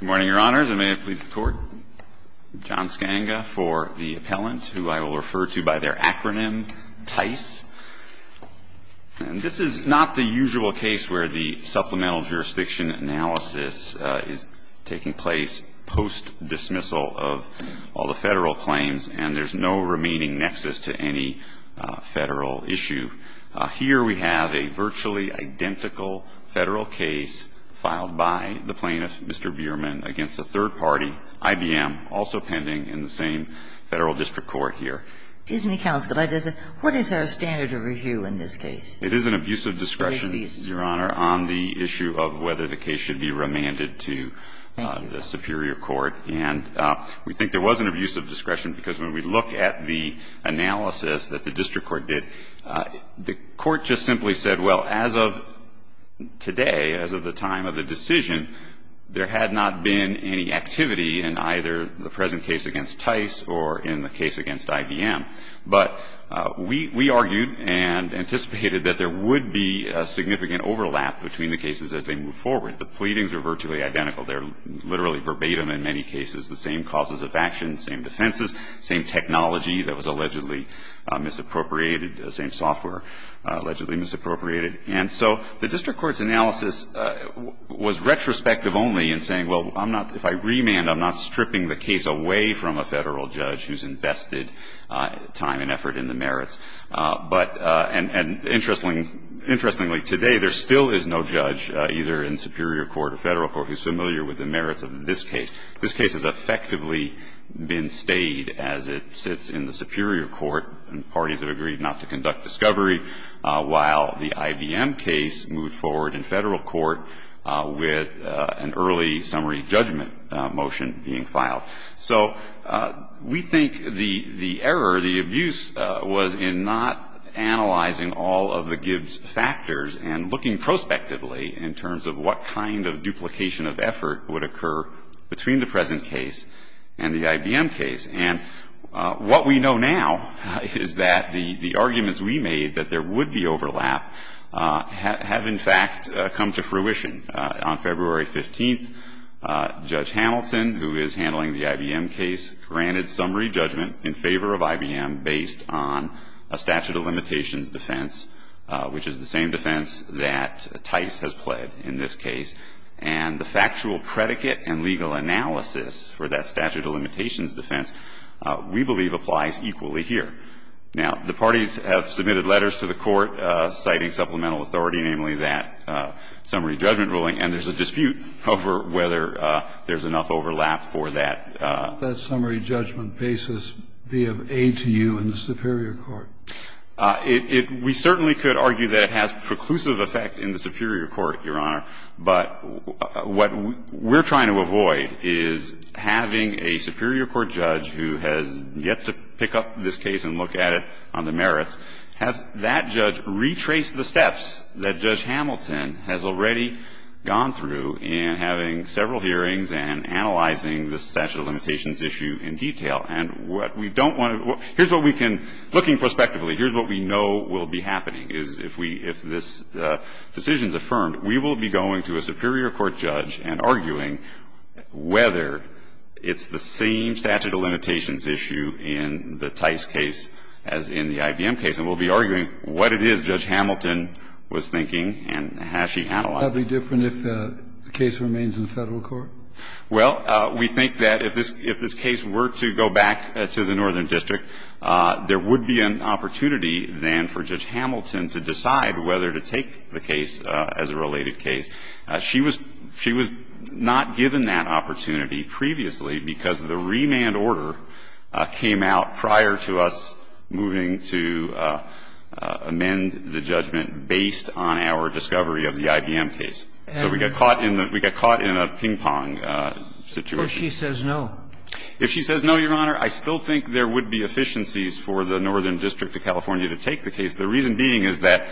Good morning, Your Honors, and may it please the Court. John Skanga for the appellant, who I will refer to by their acronym, TICE. And this is not the usual case where the supplemental jurisdiction analysis is taking place post-dismissal of all the federal claims, and there's no remaining nexus to any federal issue. Here we have a virtually identical federal case filed by the plaintiff, Mr. Bierman, against a third party, IBM, also pending in the same federal district court here. Excuse me, counsel, but what is our standard of review in this case? It is an abuse of discretion, Your Honor, on the issue of whether the case should be remanded to the superior court. And we think there was an abuse of discretion because when we look at the analysis that the district court did, the court just simply said, well, as of today, as of the time of the decision, there had not been any activity in either the present case against TICE or in the case against IBM. But we argued and anticipated that there would be a significant overlap between the cases as they move forward. The pleadings are virtually identical. They're literally verbatim in many cases, the same causes of action, same defenses, same technology that was allegedly misappropriated, the same software allegedly misappropriated. And so the district court's analysis was retrospective only in saying, well, I'm not – if I remand, I'm not stripping the case away from a federal judge who's invested time and effort in the merits. But – and interestingly, today there still is no judge either in superior court or federal court who's familiar with the merits of this case. This case has effectively been stayed as it sits in the superior court, and parties have agreed not to conduct discovery, while the IBM case moved forward in federal court with an early summary judgment motion being filed. So we think the error, the abuse was in not analyzing all of the Gibbs factors and looking prospectively in terms of what kind of duplication of effort would occur between the present case and the IBM case. And what we know now is that the arguments we made that there would be overlap have in fact come to fruition. On February 15th, Judge Hamilton, who is handling the IBM case, granted summary judgment in favor of IBM based on a statute of limitations defense, which is the same defense that Tice has pled in this case. And the factual predicate and legal analysis for that statute of limitations defense we believe applies equally here. Now, the parties have submitted letters to the court citing supplemental authority, namely that summary judgment ruling. And there's a dispute over whether there's enough overlap for that. Kennedy. That summary judgment basis be of aid to you in the superior court. We certainly could argue that it has preclusive effect in the superior court, Your Honor. But what we're trying to avoid is having a superior court judge who has yet to pick up this case and look at it on the merits, have that judge retrace the steps that Judge Hamilton has already gone through in having several hearings and analyzing the statute of limitations issue in detail. And what we don't want to – here's what we can – looking prospectively, here's what we know will be happening, is if we – if this decision is affirmed, we will be going to a superior court judge and arguing whether it's the same statute of limitations issue in the Tice case as in the IBM case. And we'll be arguing what it is Judge Hamilton was thinking and has she analyzed it. Would that be different if the case remains in Federal court? Well, we think that if this – if this case were to go back to the Northern District, there would be an opportunity then for Judge Hamilton to decide whether to take the case as a related case. She was – she was not given that opportunity previously because the remand order came out prior to us moving to amend the judgment based on our discovery of the IBM case. So we got caught in the – we got caught in a ping-pong situation. If she says no. If she says no, Your Honor, I still think there would be efficiencies for the Northern District of California to take the case. The reason being is that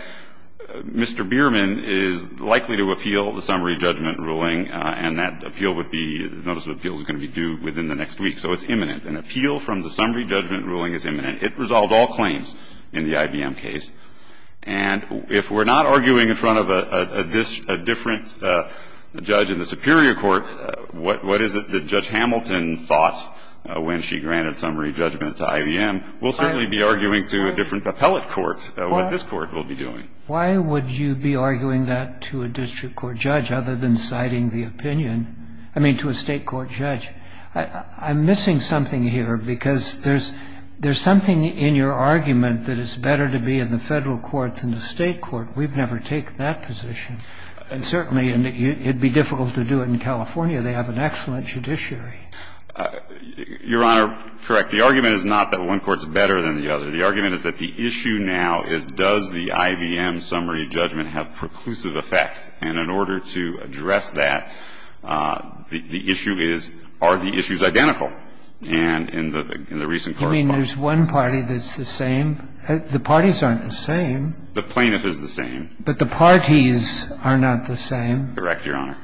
Mr. Bierman is likely to appeal the summary judgment ruling, and that appeal would be – the notice of appeal is going to be due within the next week, so it's imminent. An appeal from the summary judgment ruling is imminent. It resolved all claims in the IBM case. And if we're not arguing in front of a – a different judge in the superior court, what – what is it that Judge Hamilton thought when she granted summary judgment to IBM, we'll certainly be arguing to a different appellate court what this court will be doing. Why would you be arguing that to a district court judge other than citing the opinion of Judge Hamilton? I mean, to a state court judge. I'm missing something here, because there's – there's something in your argument that it's better to be in the Federal court than the state court. We've never taken that position. And certainly, it would be difficult to do it in California. They have an excellent judiciary. Your Honor, correct. The argument is not that one court is better than the other. The argument is that the issue now is does the IBM summary judgment have preclusive effect. And in order to address that, the issue is are the issues identical. And in the – in the recent correspondence. You mean there's one party that's the same? The parties aren't the same. The plaintiff is the same. But the parties are not the same. Correct, Your Honor.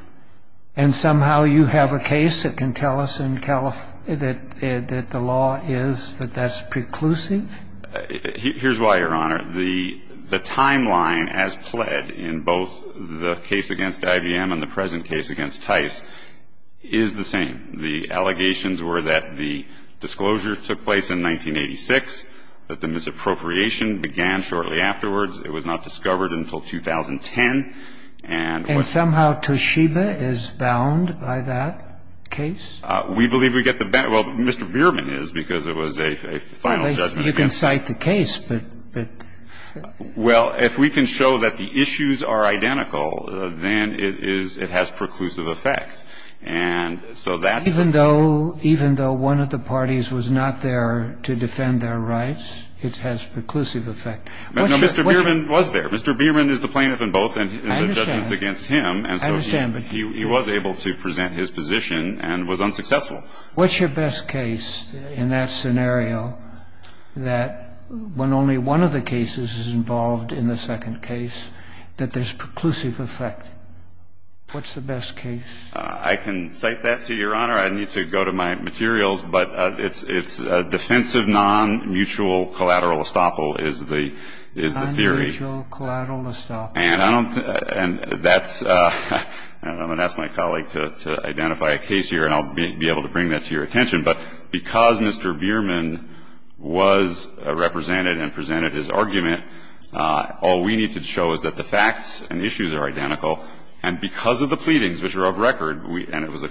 And somehow you have a case that can tell us in Calif – that the law is that that's preclusive? Here's why, Your Honor. The – the timeline as pled in both the case against IBM and the present case against Tice is the same. The allegations were that the disclosure took place in 1986, that the misappropriation began shortly afterwards. It was not discovered until 2010. And – And somehow Toshiba is bound by that case? We believe we get the – well, Mr. Bierman is, because it was a final judgment. Well, you can cite the case, but – but – Well, if we can show that the issues are identical, then it is – it has preclusive effect. And so that's the thing. Even though – even though one of the parties was not there to defend their rights, it has preclusive effect. No, Mr. Bierman was there. Mr. Bierman is the plaintiff in both the judgments against him. I understand. And so he was able to present his position and was unsuccessful. What's your best case in that scenario that when only one of the cases is involved in the second case, that there's preclusive effect? What's the best case? I can cite that to Your Honor. I need to go to my materials. But it's – it's defensive non-mutual collateral estoppel is the – is the theory. Non-mutual collateral estoppel. And I don't – and that's – and I'm going to ask my colleague to identify a case here, and I'll be able to bring that to your attention. But because Mr. Bierman was represented and presented his argument, all we need to show is that the facts and issues are identical. And because of the pleadings, which are of record, and it was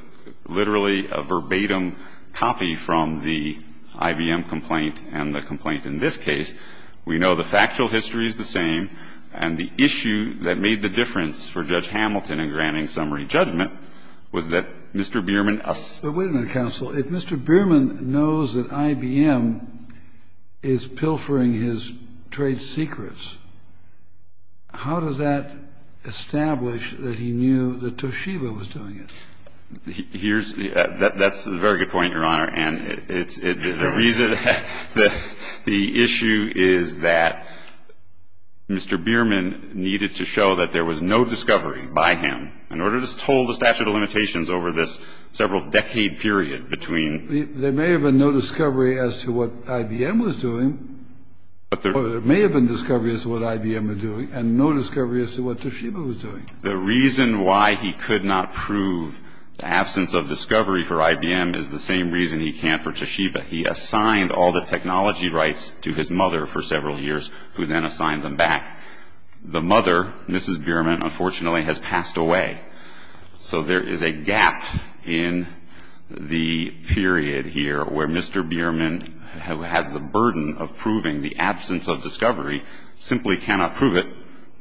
literally a verbatim copy from the IBM complaint and the complaint in this case, we know the factual history is the same, and the issue that made the difference for Judge Hamilton in granting summary judgment was that Mr. Bierman – But wait a minute, counsel. If Mr. Bierman knows that IBM is pilfering his trade secrets, how does that establish that he knew that Toshiba was doing it? Here's – that's a very good point, Your Honor. And it's – the reason – the issue is that Mr. Bierman needed to show that there was no discovery by him in order to withhold the statute of limitations over this several-decade period between – There may have been no discovery as to what IBM was doing, or there may have been discovery as to what IBM was doing, and no discovery as to what Toshiba was doing. The reason why he could not prove the absence of discovery for IBM is the same reason he can't for Toshiba. He assigned all the technology rights to his mother for several years, who then assigned them back. The mother, Mrs. Bierman, unfortunately has passed away. So there is a gap in the period here where Mr. Bierman, who has the burden of proving the absence of discovery, simply cannot prove it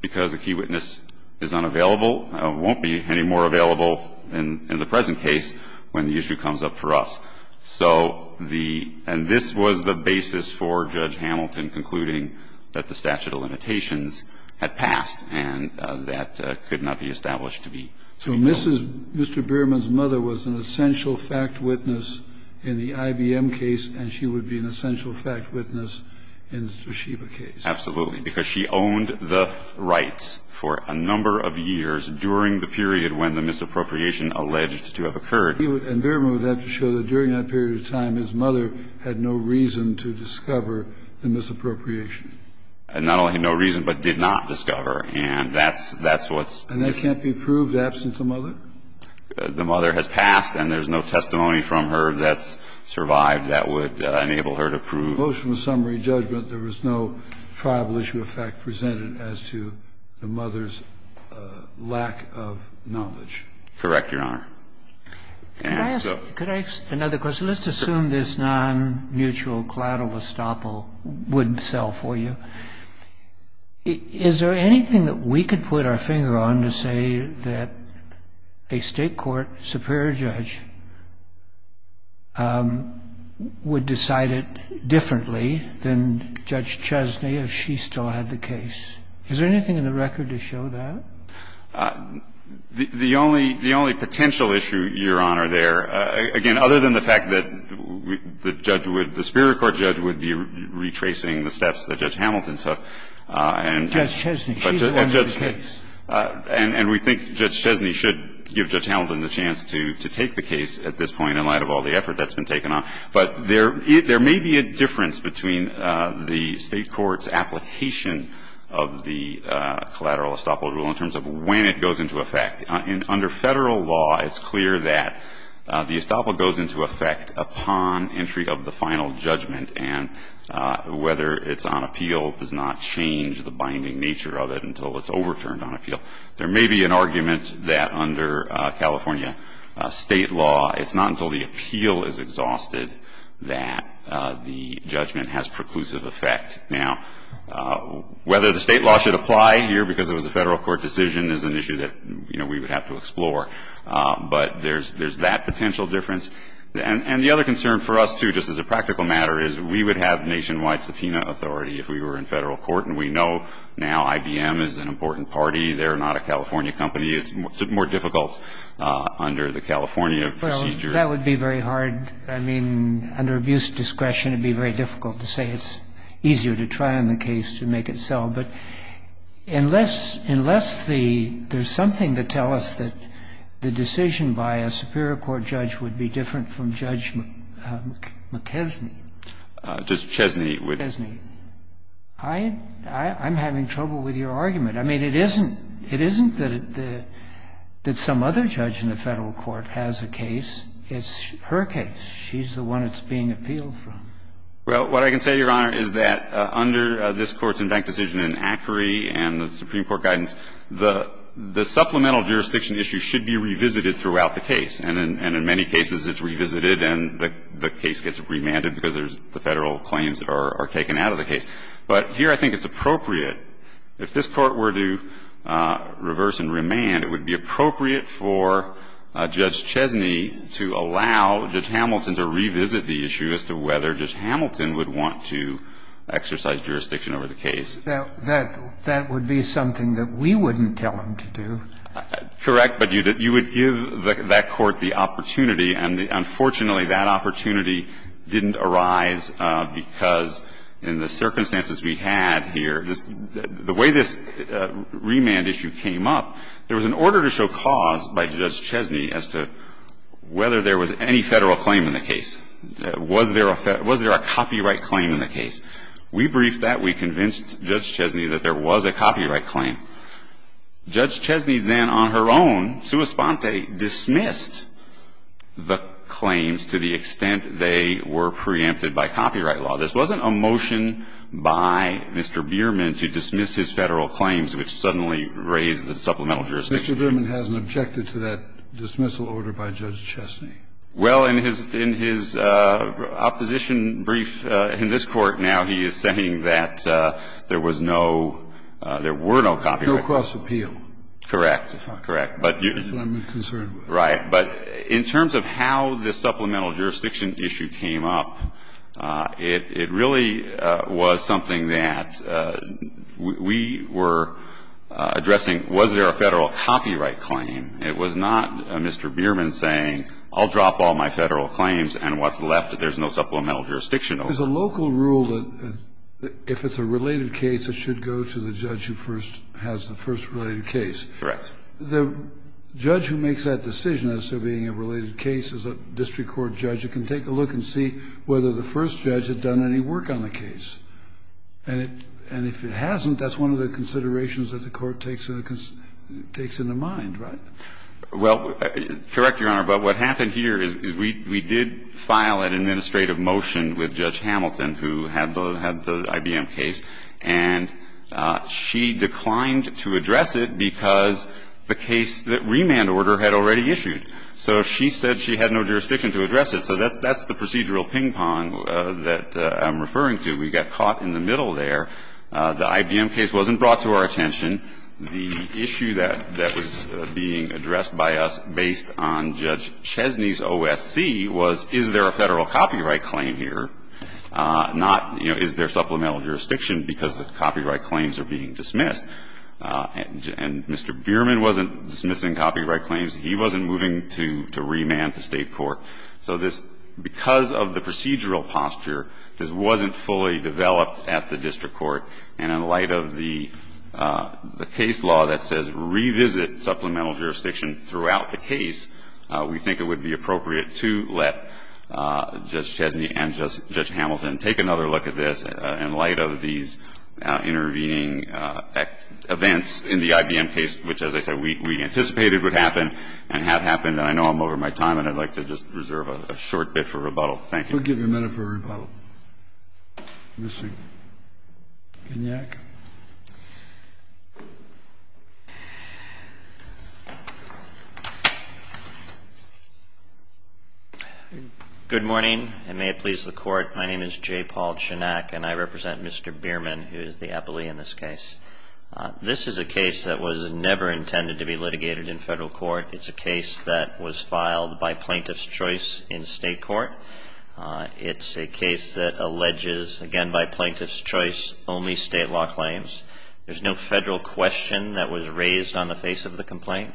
because a key witness is unavailable or won't be any more available in the present case when the issue comes up for us. So the – and this was the basis for Judge Hamilton concluding that the statute of limitations had passed, and that could not be established to be – So Mrs. – Mr. Bierman's mother was an essential fact witness in the IBM case, and she would be an essential fact witness in the Toshiba case. Absolutely, because she owned the rights for a number of years during the period when the misappropriation alleged to have occurred. And Bierman would have to show that during that period of time his mother had no reason to discover the misappropriation. And not only no reason, but did not discover. And that's – that's what's – And that can't be proved absent the mother? The mother has passed, and there's no testimony from her that's survived that would enable her to prove – Motion of summary judgment, there was no tribal issue of fact presented as to the mother's lack of knowledge. Correct, Your Honor. And so – Could I ask another question? Let's assume this non-mutual collateral estoppel wouldn't sell for you. Is there anything that we could put our finger on to say that a state court superior judge would decide it differently than Judge Chesney if she still had the case? Is there anything in the record to show that? The only – the only potential issue, Your Honor, there – again, other than the fact that the judge would – the superior court judge would be retracing the steps that Judge Hamilton took, and – Judge Chesney, she's the one with the case. And we think Judge Chesney should give Judge Hamilton the chance to take the case at this point in light of all the effort that's been taken on. But there may be a difference between the State court's application of the collateral estoppel rule in terms of when it goes into effect. Under Federal law, it's clear that the estoppel goes into effect upon entry of the final judgment, and whether it's on appeal does not change the binding nature of it until it's overturned on appeal. There may be an argument that under California State law, it's not until the appeal is exhausted that the judgment has preclusive effect. Now, whether the State law should apply here because it was a Federal court decision is an issue that, you know, we would have to explore. But there's that potential difference. And the other concern for us, too, just as a practical matter, is we would have nationwide subpoena authority if we were in Federal court. And we know now IBM is an important party. They're not a California company. It's more difficult under the California procedure. Well, that would be very hard. I mean, under abuse of discretion, it would be very difficult to say it's easier to try on the case to make it sell. But unless the – there's something to tell us that the decision by a superior court judge would be different from Judge McKesney. Judge Chesney. Chesney. I'm having trouble with your argument. I mean, it isn't that some other judge in the Federal court has a case. It's her case. She's the one it's being appealed from. Well, what I can say, Your Honor, is that under this Court's impact decision in Acri and the Supreme Court guidance, the supplemental jurisdiction issue should be revisited throughout the case. And in many cases, it's revisited and the case gets remanded because the Federal claims are taken out of the case. But here I think it's appropriate. If this Court were to reverse and remand, it would be appropriate for Judge Chesney to allow Judge Hamilton to revisit the issue as to whether Judge Hamilton would want to exercise jurisdiction over the case. That would be something that we wouldn't tell him to do. Correct. But you would give that Court the opportunity. And unfortunately, that opportunity didn't arise because in the circumstances we had here, the way this remand issue came up, there was an order to show cause by Judge Chesney as to whether there was any Federal claim in the case. Was there a copyright claim in the case? We briefed that. We convinced Judge Chesney that there was a copyright claim. Judge Chesney then on her own, sua sponte, dismissed the claims to the extent they were preempted by copyright law. This wasn't a motion by Mr. Bierman to dismiss his Federal claims, which suddenly raised the supplemental jurisdiction issue. Mr. Bierman hasn't objected to that dismissal order by Judge Chesney. Well, in his opposition brief in this Court now, he is saying that there was no – there were no copyrights. No cross-appeal. Correct. That's what I'm concerned with. Right. But in terms of how the supplemental jurisdiction issue came up, it really was something that we were addressing, was there a Federal copyright claim? It was not Mr. Bierman saying, I'll drop all my Federal claims and what's left, there's no supplemental jurisdiction. There's a local rule that if it's a related case, it should go to the judge who first has the first related case. Correct. The judge who makes that decision as to being a related case is a district court judge who can take a look and see whether the first judge had done any work on the case. And if it hasn't, that's one of the considerations that the Court takes in the mind, right? Well, correct, Your Honor. But what happened here is we did file an administrative motion with Judge Hamilton who had the IBM case, and she declined to address it because the case that remand order had already issued. So she said she had no jurisdiction to address it. So that's the procedural ping-pong that I'm referring to. We got caught in the middle there. The IBM case wasn't brought to our attention. The issue that was being addressed by us based on Judge Chesney's OSC was is there a Federal copyright claim here, not, you know, is there supplemental jurisdiction because the copyright claims are being dismissed. And Mr. Bierman wasn't dismissing copyright claims. He wasn't moving to remand the State court. So this, because of the procedural posture, this wasn't fully developed at the district court. And in light of the case law that says revisit supplemental jurisdiction throughout the case, we think it would be appropriate to let Judge Chesney and Judge Hamilton take another look at this in light of these intervening events in the IBM case, which, as I said, we anticipated would happen and have happened. And I know I'm over my time, and I'd like to just reserve a short bit for rebuttal. Thank you. We'll give you a minute for rebuttal. Mr. Kignak. Good morning, and may it please the Court. My name is J. Paul Kignak, and I represent Mr. Bierman, who is the appellee in this case. This is a case that was never intended to be litigated in Federal court. It's a case that was filed by plaintiff's choice in State court. It's a case that alleges, again, by plaintiff's choice, only State law claims. There's no Federal question that was raised on the face of the complaint,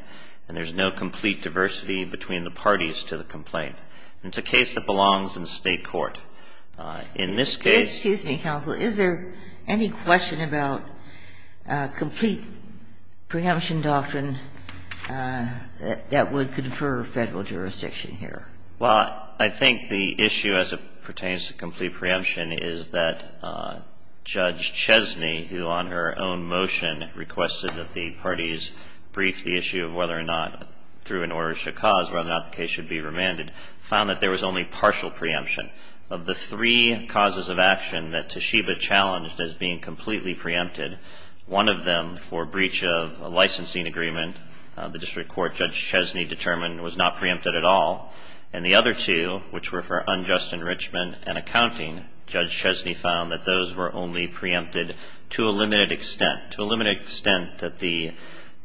and there's no complete diversity between the parties to the complaint. It's a case that belongs in State court. In this case ---- Well, I think the issue as it pertains to complete preemption is that Judge Chesney, who on her own motion requested that the parties brief the issue of whether or not through an order should cause, whether or not the case should be remanded, found that there was only partial preemption. Of the three causes of action that Toshiba challenged as being completely preempted, one of them for breach of a licensing agreement, the District Court Judge Chesney determined was not preempted at all. And the other two, which were for unjust enrichment and accounting, Judge Chesney found that those were only preempted to a limited extent, to a limited extent that the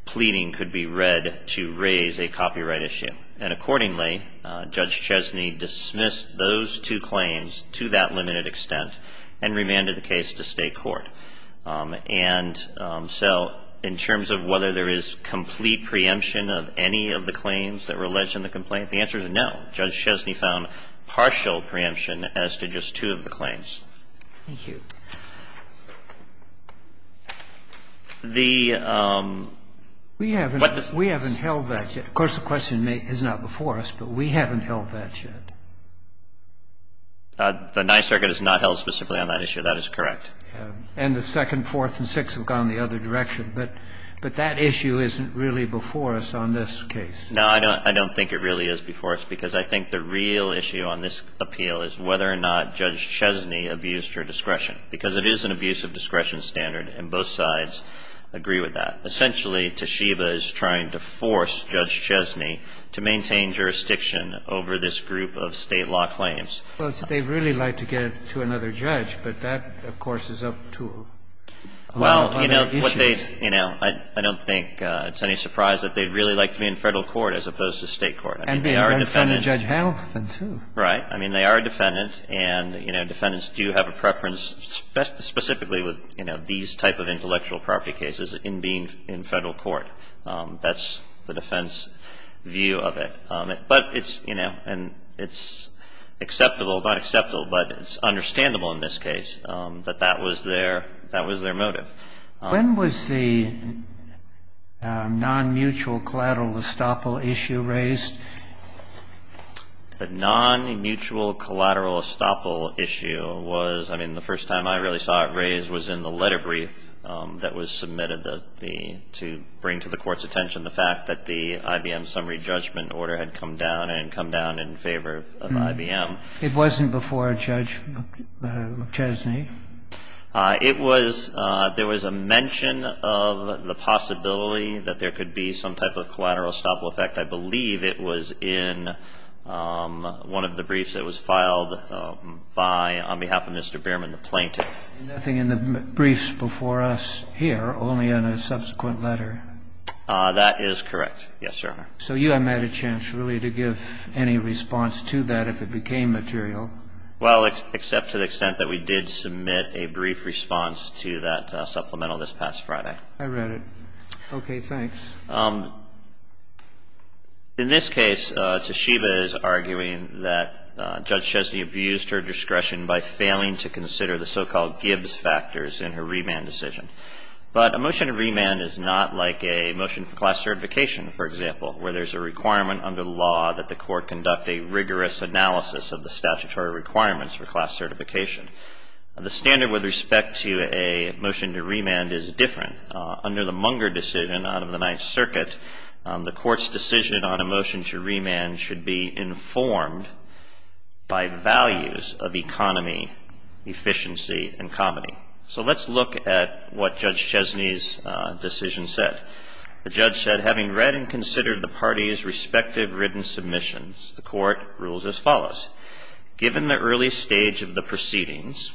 pleading could be read to raise a copyright issue. And accordingly, Judge Chesney dismissed those two claims to that limited extent and remanded the case to State court. And so in terms of whether there is complete preemption of any of the claims that were alleged in the complaint, the answer is no. Judge Chesney found partial preemption as to just two of the claims. Thank you. The ---- We haven't held that yet. Of course, the question is not before us, but we haven't held that yet. The Ninth Circuit has not held specifically on that issue. That is correct. And the second, fourth, and sixth have gone the other direction. But that issue isn't really before us on this case. No, I don't think it really is before us, because I think the real issue on this appeal is whether or not Judge Chesney abused her discretion, because it is an abuse of discretion standard, and both sides agree with that. Essentially, Toshiba is trying to force Judge Chesney to maintain jurisdiction over this group of State law claims. Well, they'd really like to get it to another judge, but that, of course, is up to a lot of other issues. Well, you know, what they, you know, I don't think it's any surprise that they'd really like to be in Federal court as opposed to State court. I mean, they are a defendant. And be in front of Judge Hamilton, too. Right. I mean, they are a defendant, and, you know, defendants do have a preference specifically with, you know, these type of intellectual property cases in being in Federal court. That's the defense view of it. But it's, you know, and it's acceptable, not acceptable, but it's understandable in this case that that was their motive. When was the non-mutual collateral estoppel issue raised? The non-mutual collateral estoppel issue was, I mean, the first time I really saw it raised was in the letter brief that was submitted to bring to the Court's attention the fact that the IBM summary judgment order had come down and come down in favor of IBM. It wasn't before Judge McChesney? It was. There was a mention of the possibility that there could be some type of collateral estoppel effect. I believe it was in one of the briefs that was filed by, on behalf of Mr. Bierman, the plaintiff. Nothing in the briefs before us here, only in a subsequent letter. That is correct. Yes, Your Honor. So you haven't had a chance really to give any response to that if it became material? Well, except to the extent that we did submit a brief response to that supplemental this past Friday. I read it. Okay. Thanks. In this case, Toshiba is arguing that Judge Chesney abused her discretion by failing to consider the so-called Gibbs factors in her remand decision. But a motion to remand is not like a motion for class certification, for example, where there's a requirement under the law that the court conduct a rigorous analysis of the statutory requirements for class certification. The standard with respect to a motion to remand is different. Under the Munger decision out of the Ninth Circuit, the court's decision on a motion to remand should be informed by values of economy, efficiency, and comedy. So let's look at what Judge Chesney's decision said. The judge said, having read and considered the parties' respective written submissions, the court rules as follows. Given the early stage of the proceedings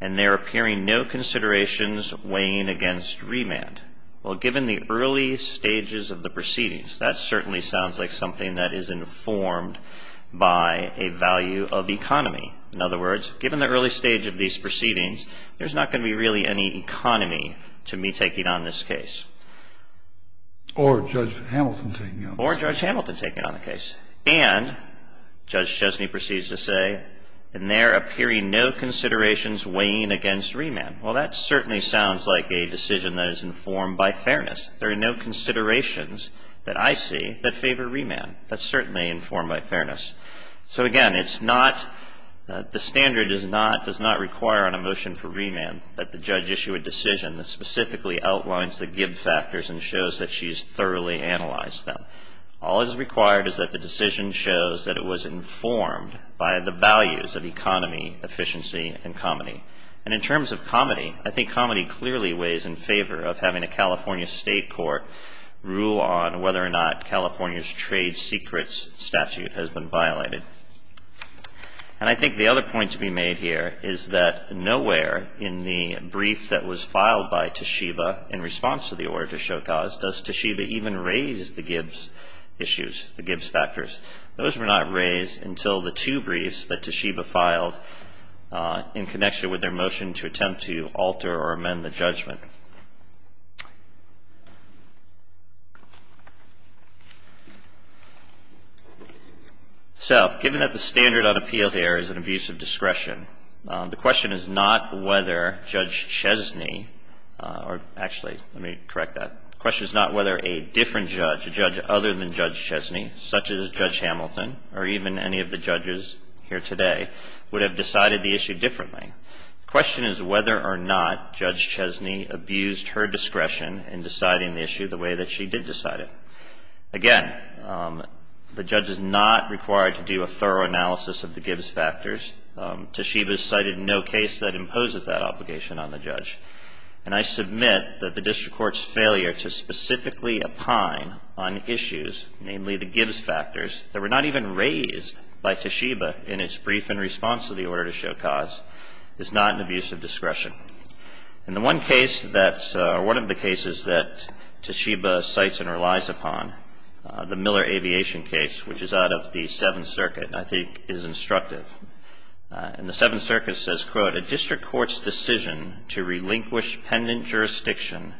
and there appearing no considerations weighing against remand. Well, given the early stages of the proceedings, that certainly sounds like something that is informed by a value of economy. In other words, given the early stage of these proceedings, there's not going to be really any economy to me taking on this case. Or Judge Hamilton taking on the case. Or Judge Hamilton taking on the case. And Judge Chesney proceeds to say, and there appearing no considerations weighing against remand. Well, that certainly sounds like a decision that is informed by fairness. There are no considerations that I see that favor remand. That's certainly informed by fairness. So again, it's not, the standard does not require on a motion for remand that the judge issue a decision that specifically outlines the give factors and shows that she's thoroughly analyzed them. All that is required is that the decision shows that it was informed by the values of economy, efficiency, and comedy. And in terms of comedy, I think comedy clearly weighs in favor of having a California state court rule on whether or not California's trade secrets statute has been violated. And I think the other point to be made here is that nowhere in the brief that was filed by Toshiba in response to the order to show cause does Toshiba even raise the Gibbs issues, the Gibbs factors. Those were not raised until the two briefs that Toshiba filed in connection with their motion to attempt to alter or amend the judgment. So given that the standard on appeal here is an abuse of discretion, the question is not whether Judge Chesney, or actually, let me correct that. The question is not whether a different judge, a judge other than Judge Chesney, such as Judge Hamilton, or even any of the judges here today, would have decided the issue differently. The question is whether or not Judge Chesney abused her discretion in deciding the issue the way that she did decide it. Again, the judge is not required to do a thorough analysis of the Gibbs factors. Toshiba's cited no case that imposes that obligation on the judge. And I submit that the district court's failure to specifically opine on issues, namely the Gibbs factors, that were not even raised by Toshiba in its brief in response to the order to show cause, is not an abuse of discretion. And the one case that's, or one of the cases that Toshiba cites and relies upon, the Miller Aviation case, which is out of the Seventh Circuit, and I think is instructive. And the Seventh Circuit says, quote, A district court's decision to relinquish pendant jurisdiction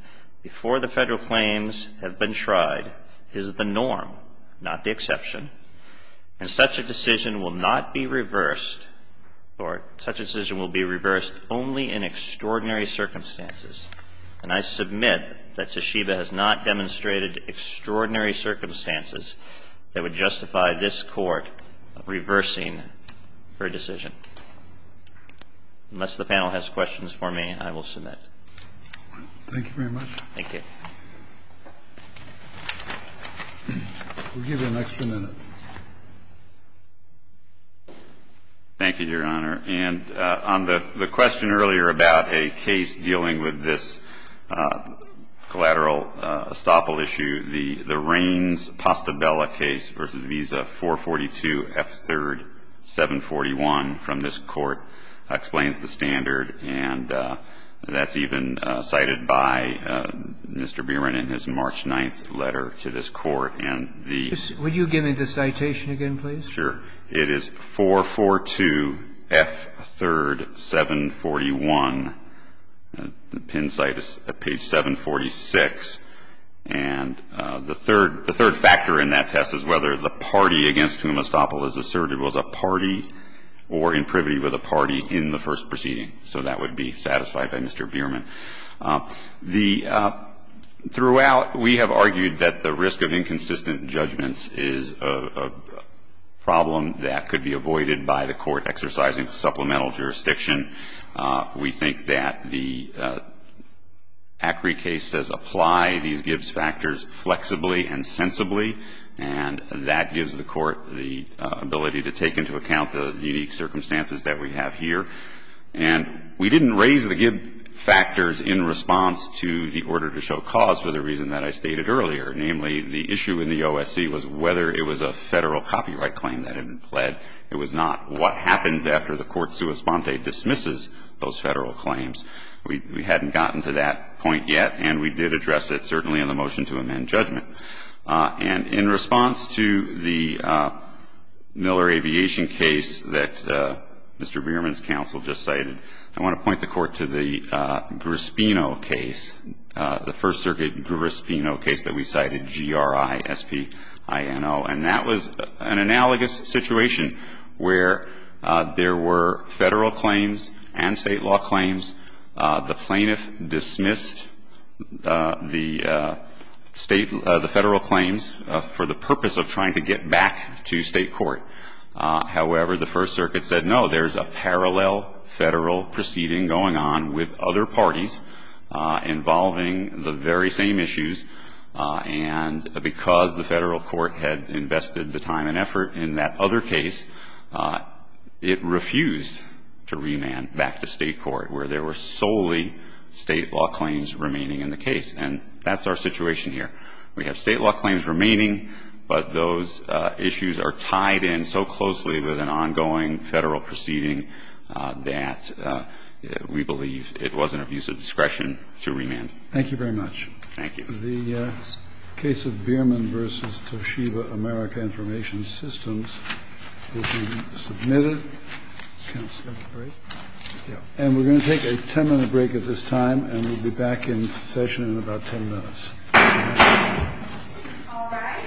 before the Federal claims have been tried is the norm, not the exception, and such a decision will not be reversed, or such a decision will be reversed, only in extraordinary circumstances. And I submit that Toshiba has not demonstrated extraordinary circumstances that would justify this Court reversing her decision. Unless the panel has questions for me, I will submit. Thank you very much. Thank you. We'll give you an extra minute. Thank you, Your Honor. And on the question earlier about a case dealing with this collateral estoppel issue, the Raines-Postabella case v. Visa, 442F3rd741 from this Court explains the standard, and that's even cited by Mr. Bierman in his March 9th letter to this Court. And the ---- Would you give me the citation again, please? Sure. It is 442F3rd741. The pin cite is at page 746. And the third factor in that test is whether the party against whom estoppel is asserted was a party or in privy with a party in the first proceeding. So that would be satisfied by Mr. Bierman. The ---- Throughout, we have argued that the risk of inconsistent judgments is a problem that could be avoided by the Court exercising supplemental jurisdiction. We think that the ACRI case says apply these Gibbs factors flexibly and sensibly, and that gives the Court the ability to take into account the unique circumstances that we have here. And we didn't raise the Gibbs factors in response to the order to show cause for the reason that I stated earlier, namely, the issue in the OSC was whether it was a Federal copyright claim that had been pled. It was not. What happens after the Court sua sponte dismisses those Federal claims? We hadn't gotten to that point yet, and we did address it, certainly, in the motion to amend judgment. And in response to the Miller Aviation case that Mr. Bierman's counsel just cited, I want to point the Court to the Grispino case, the First Circuit Grispino case that we cited, G-R-I-S-P-I-N-O. And that was an analogous situation where there were Federal claims and State law claims. The plaintiff dismissed the State, the Federal claims for the purpose of trying to get back to State court. However, the First Circuit said, no, there's a parallel Federal proceeding going on with other parties involving the very same issues. And because the Federal court had invested the time and effort in that other case, it refused to remand back to State court where there were solely State law claims remaining in the case. And that's our situation here. We have State law claims remaining, but those issues are tied in so closely with an ongoing Federal proceeding that we believe it wasn't a piece of discretion to remand. Thank you very much. Thank you. The case of Bierman v. Toshiba America Information Systems will be submitted. And we're going to take a 10-minute break at this time, and we'll be back in session in about 10 minutes. All rise.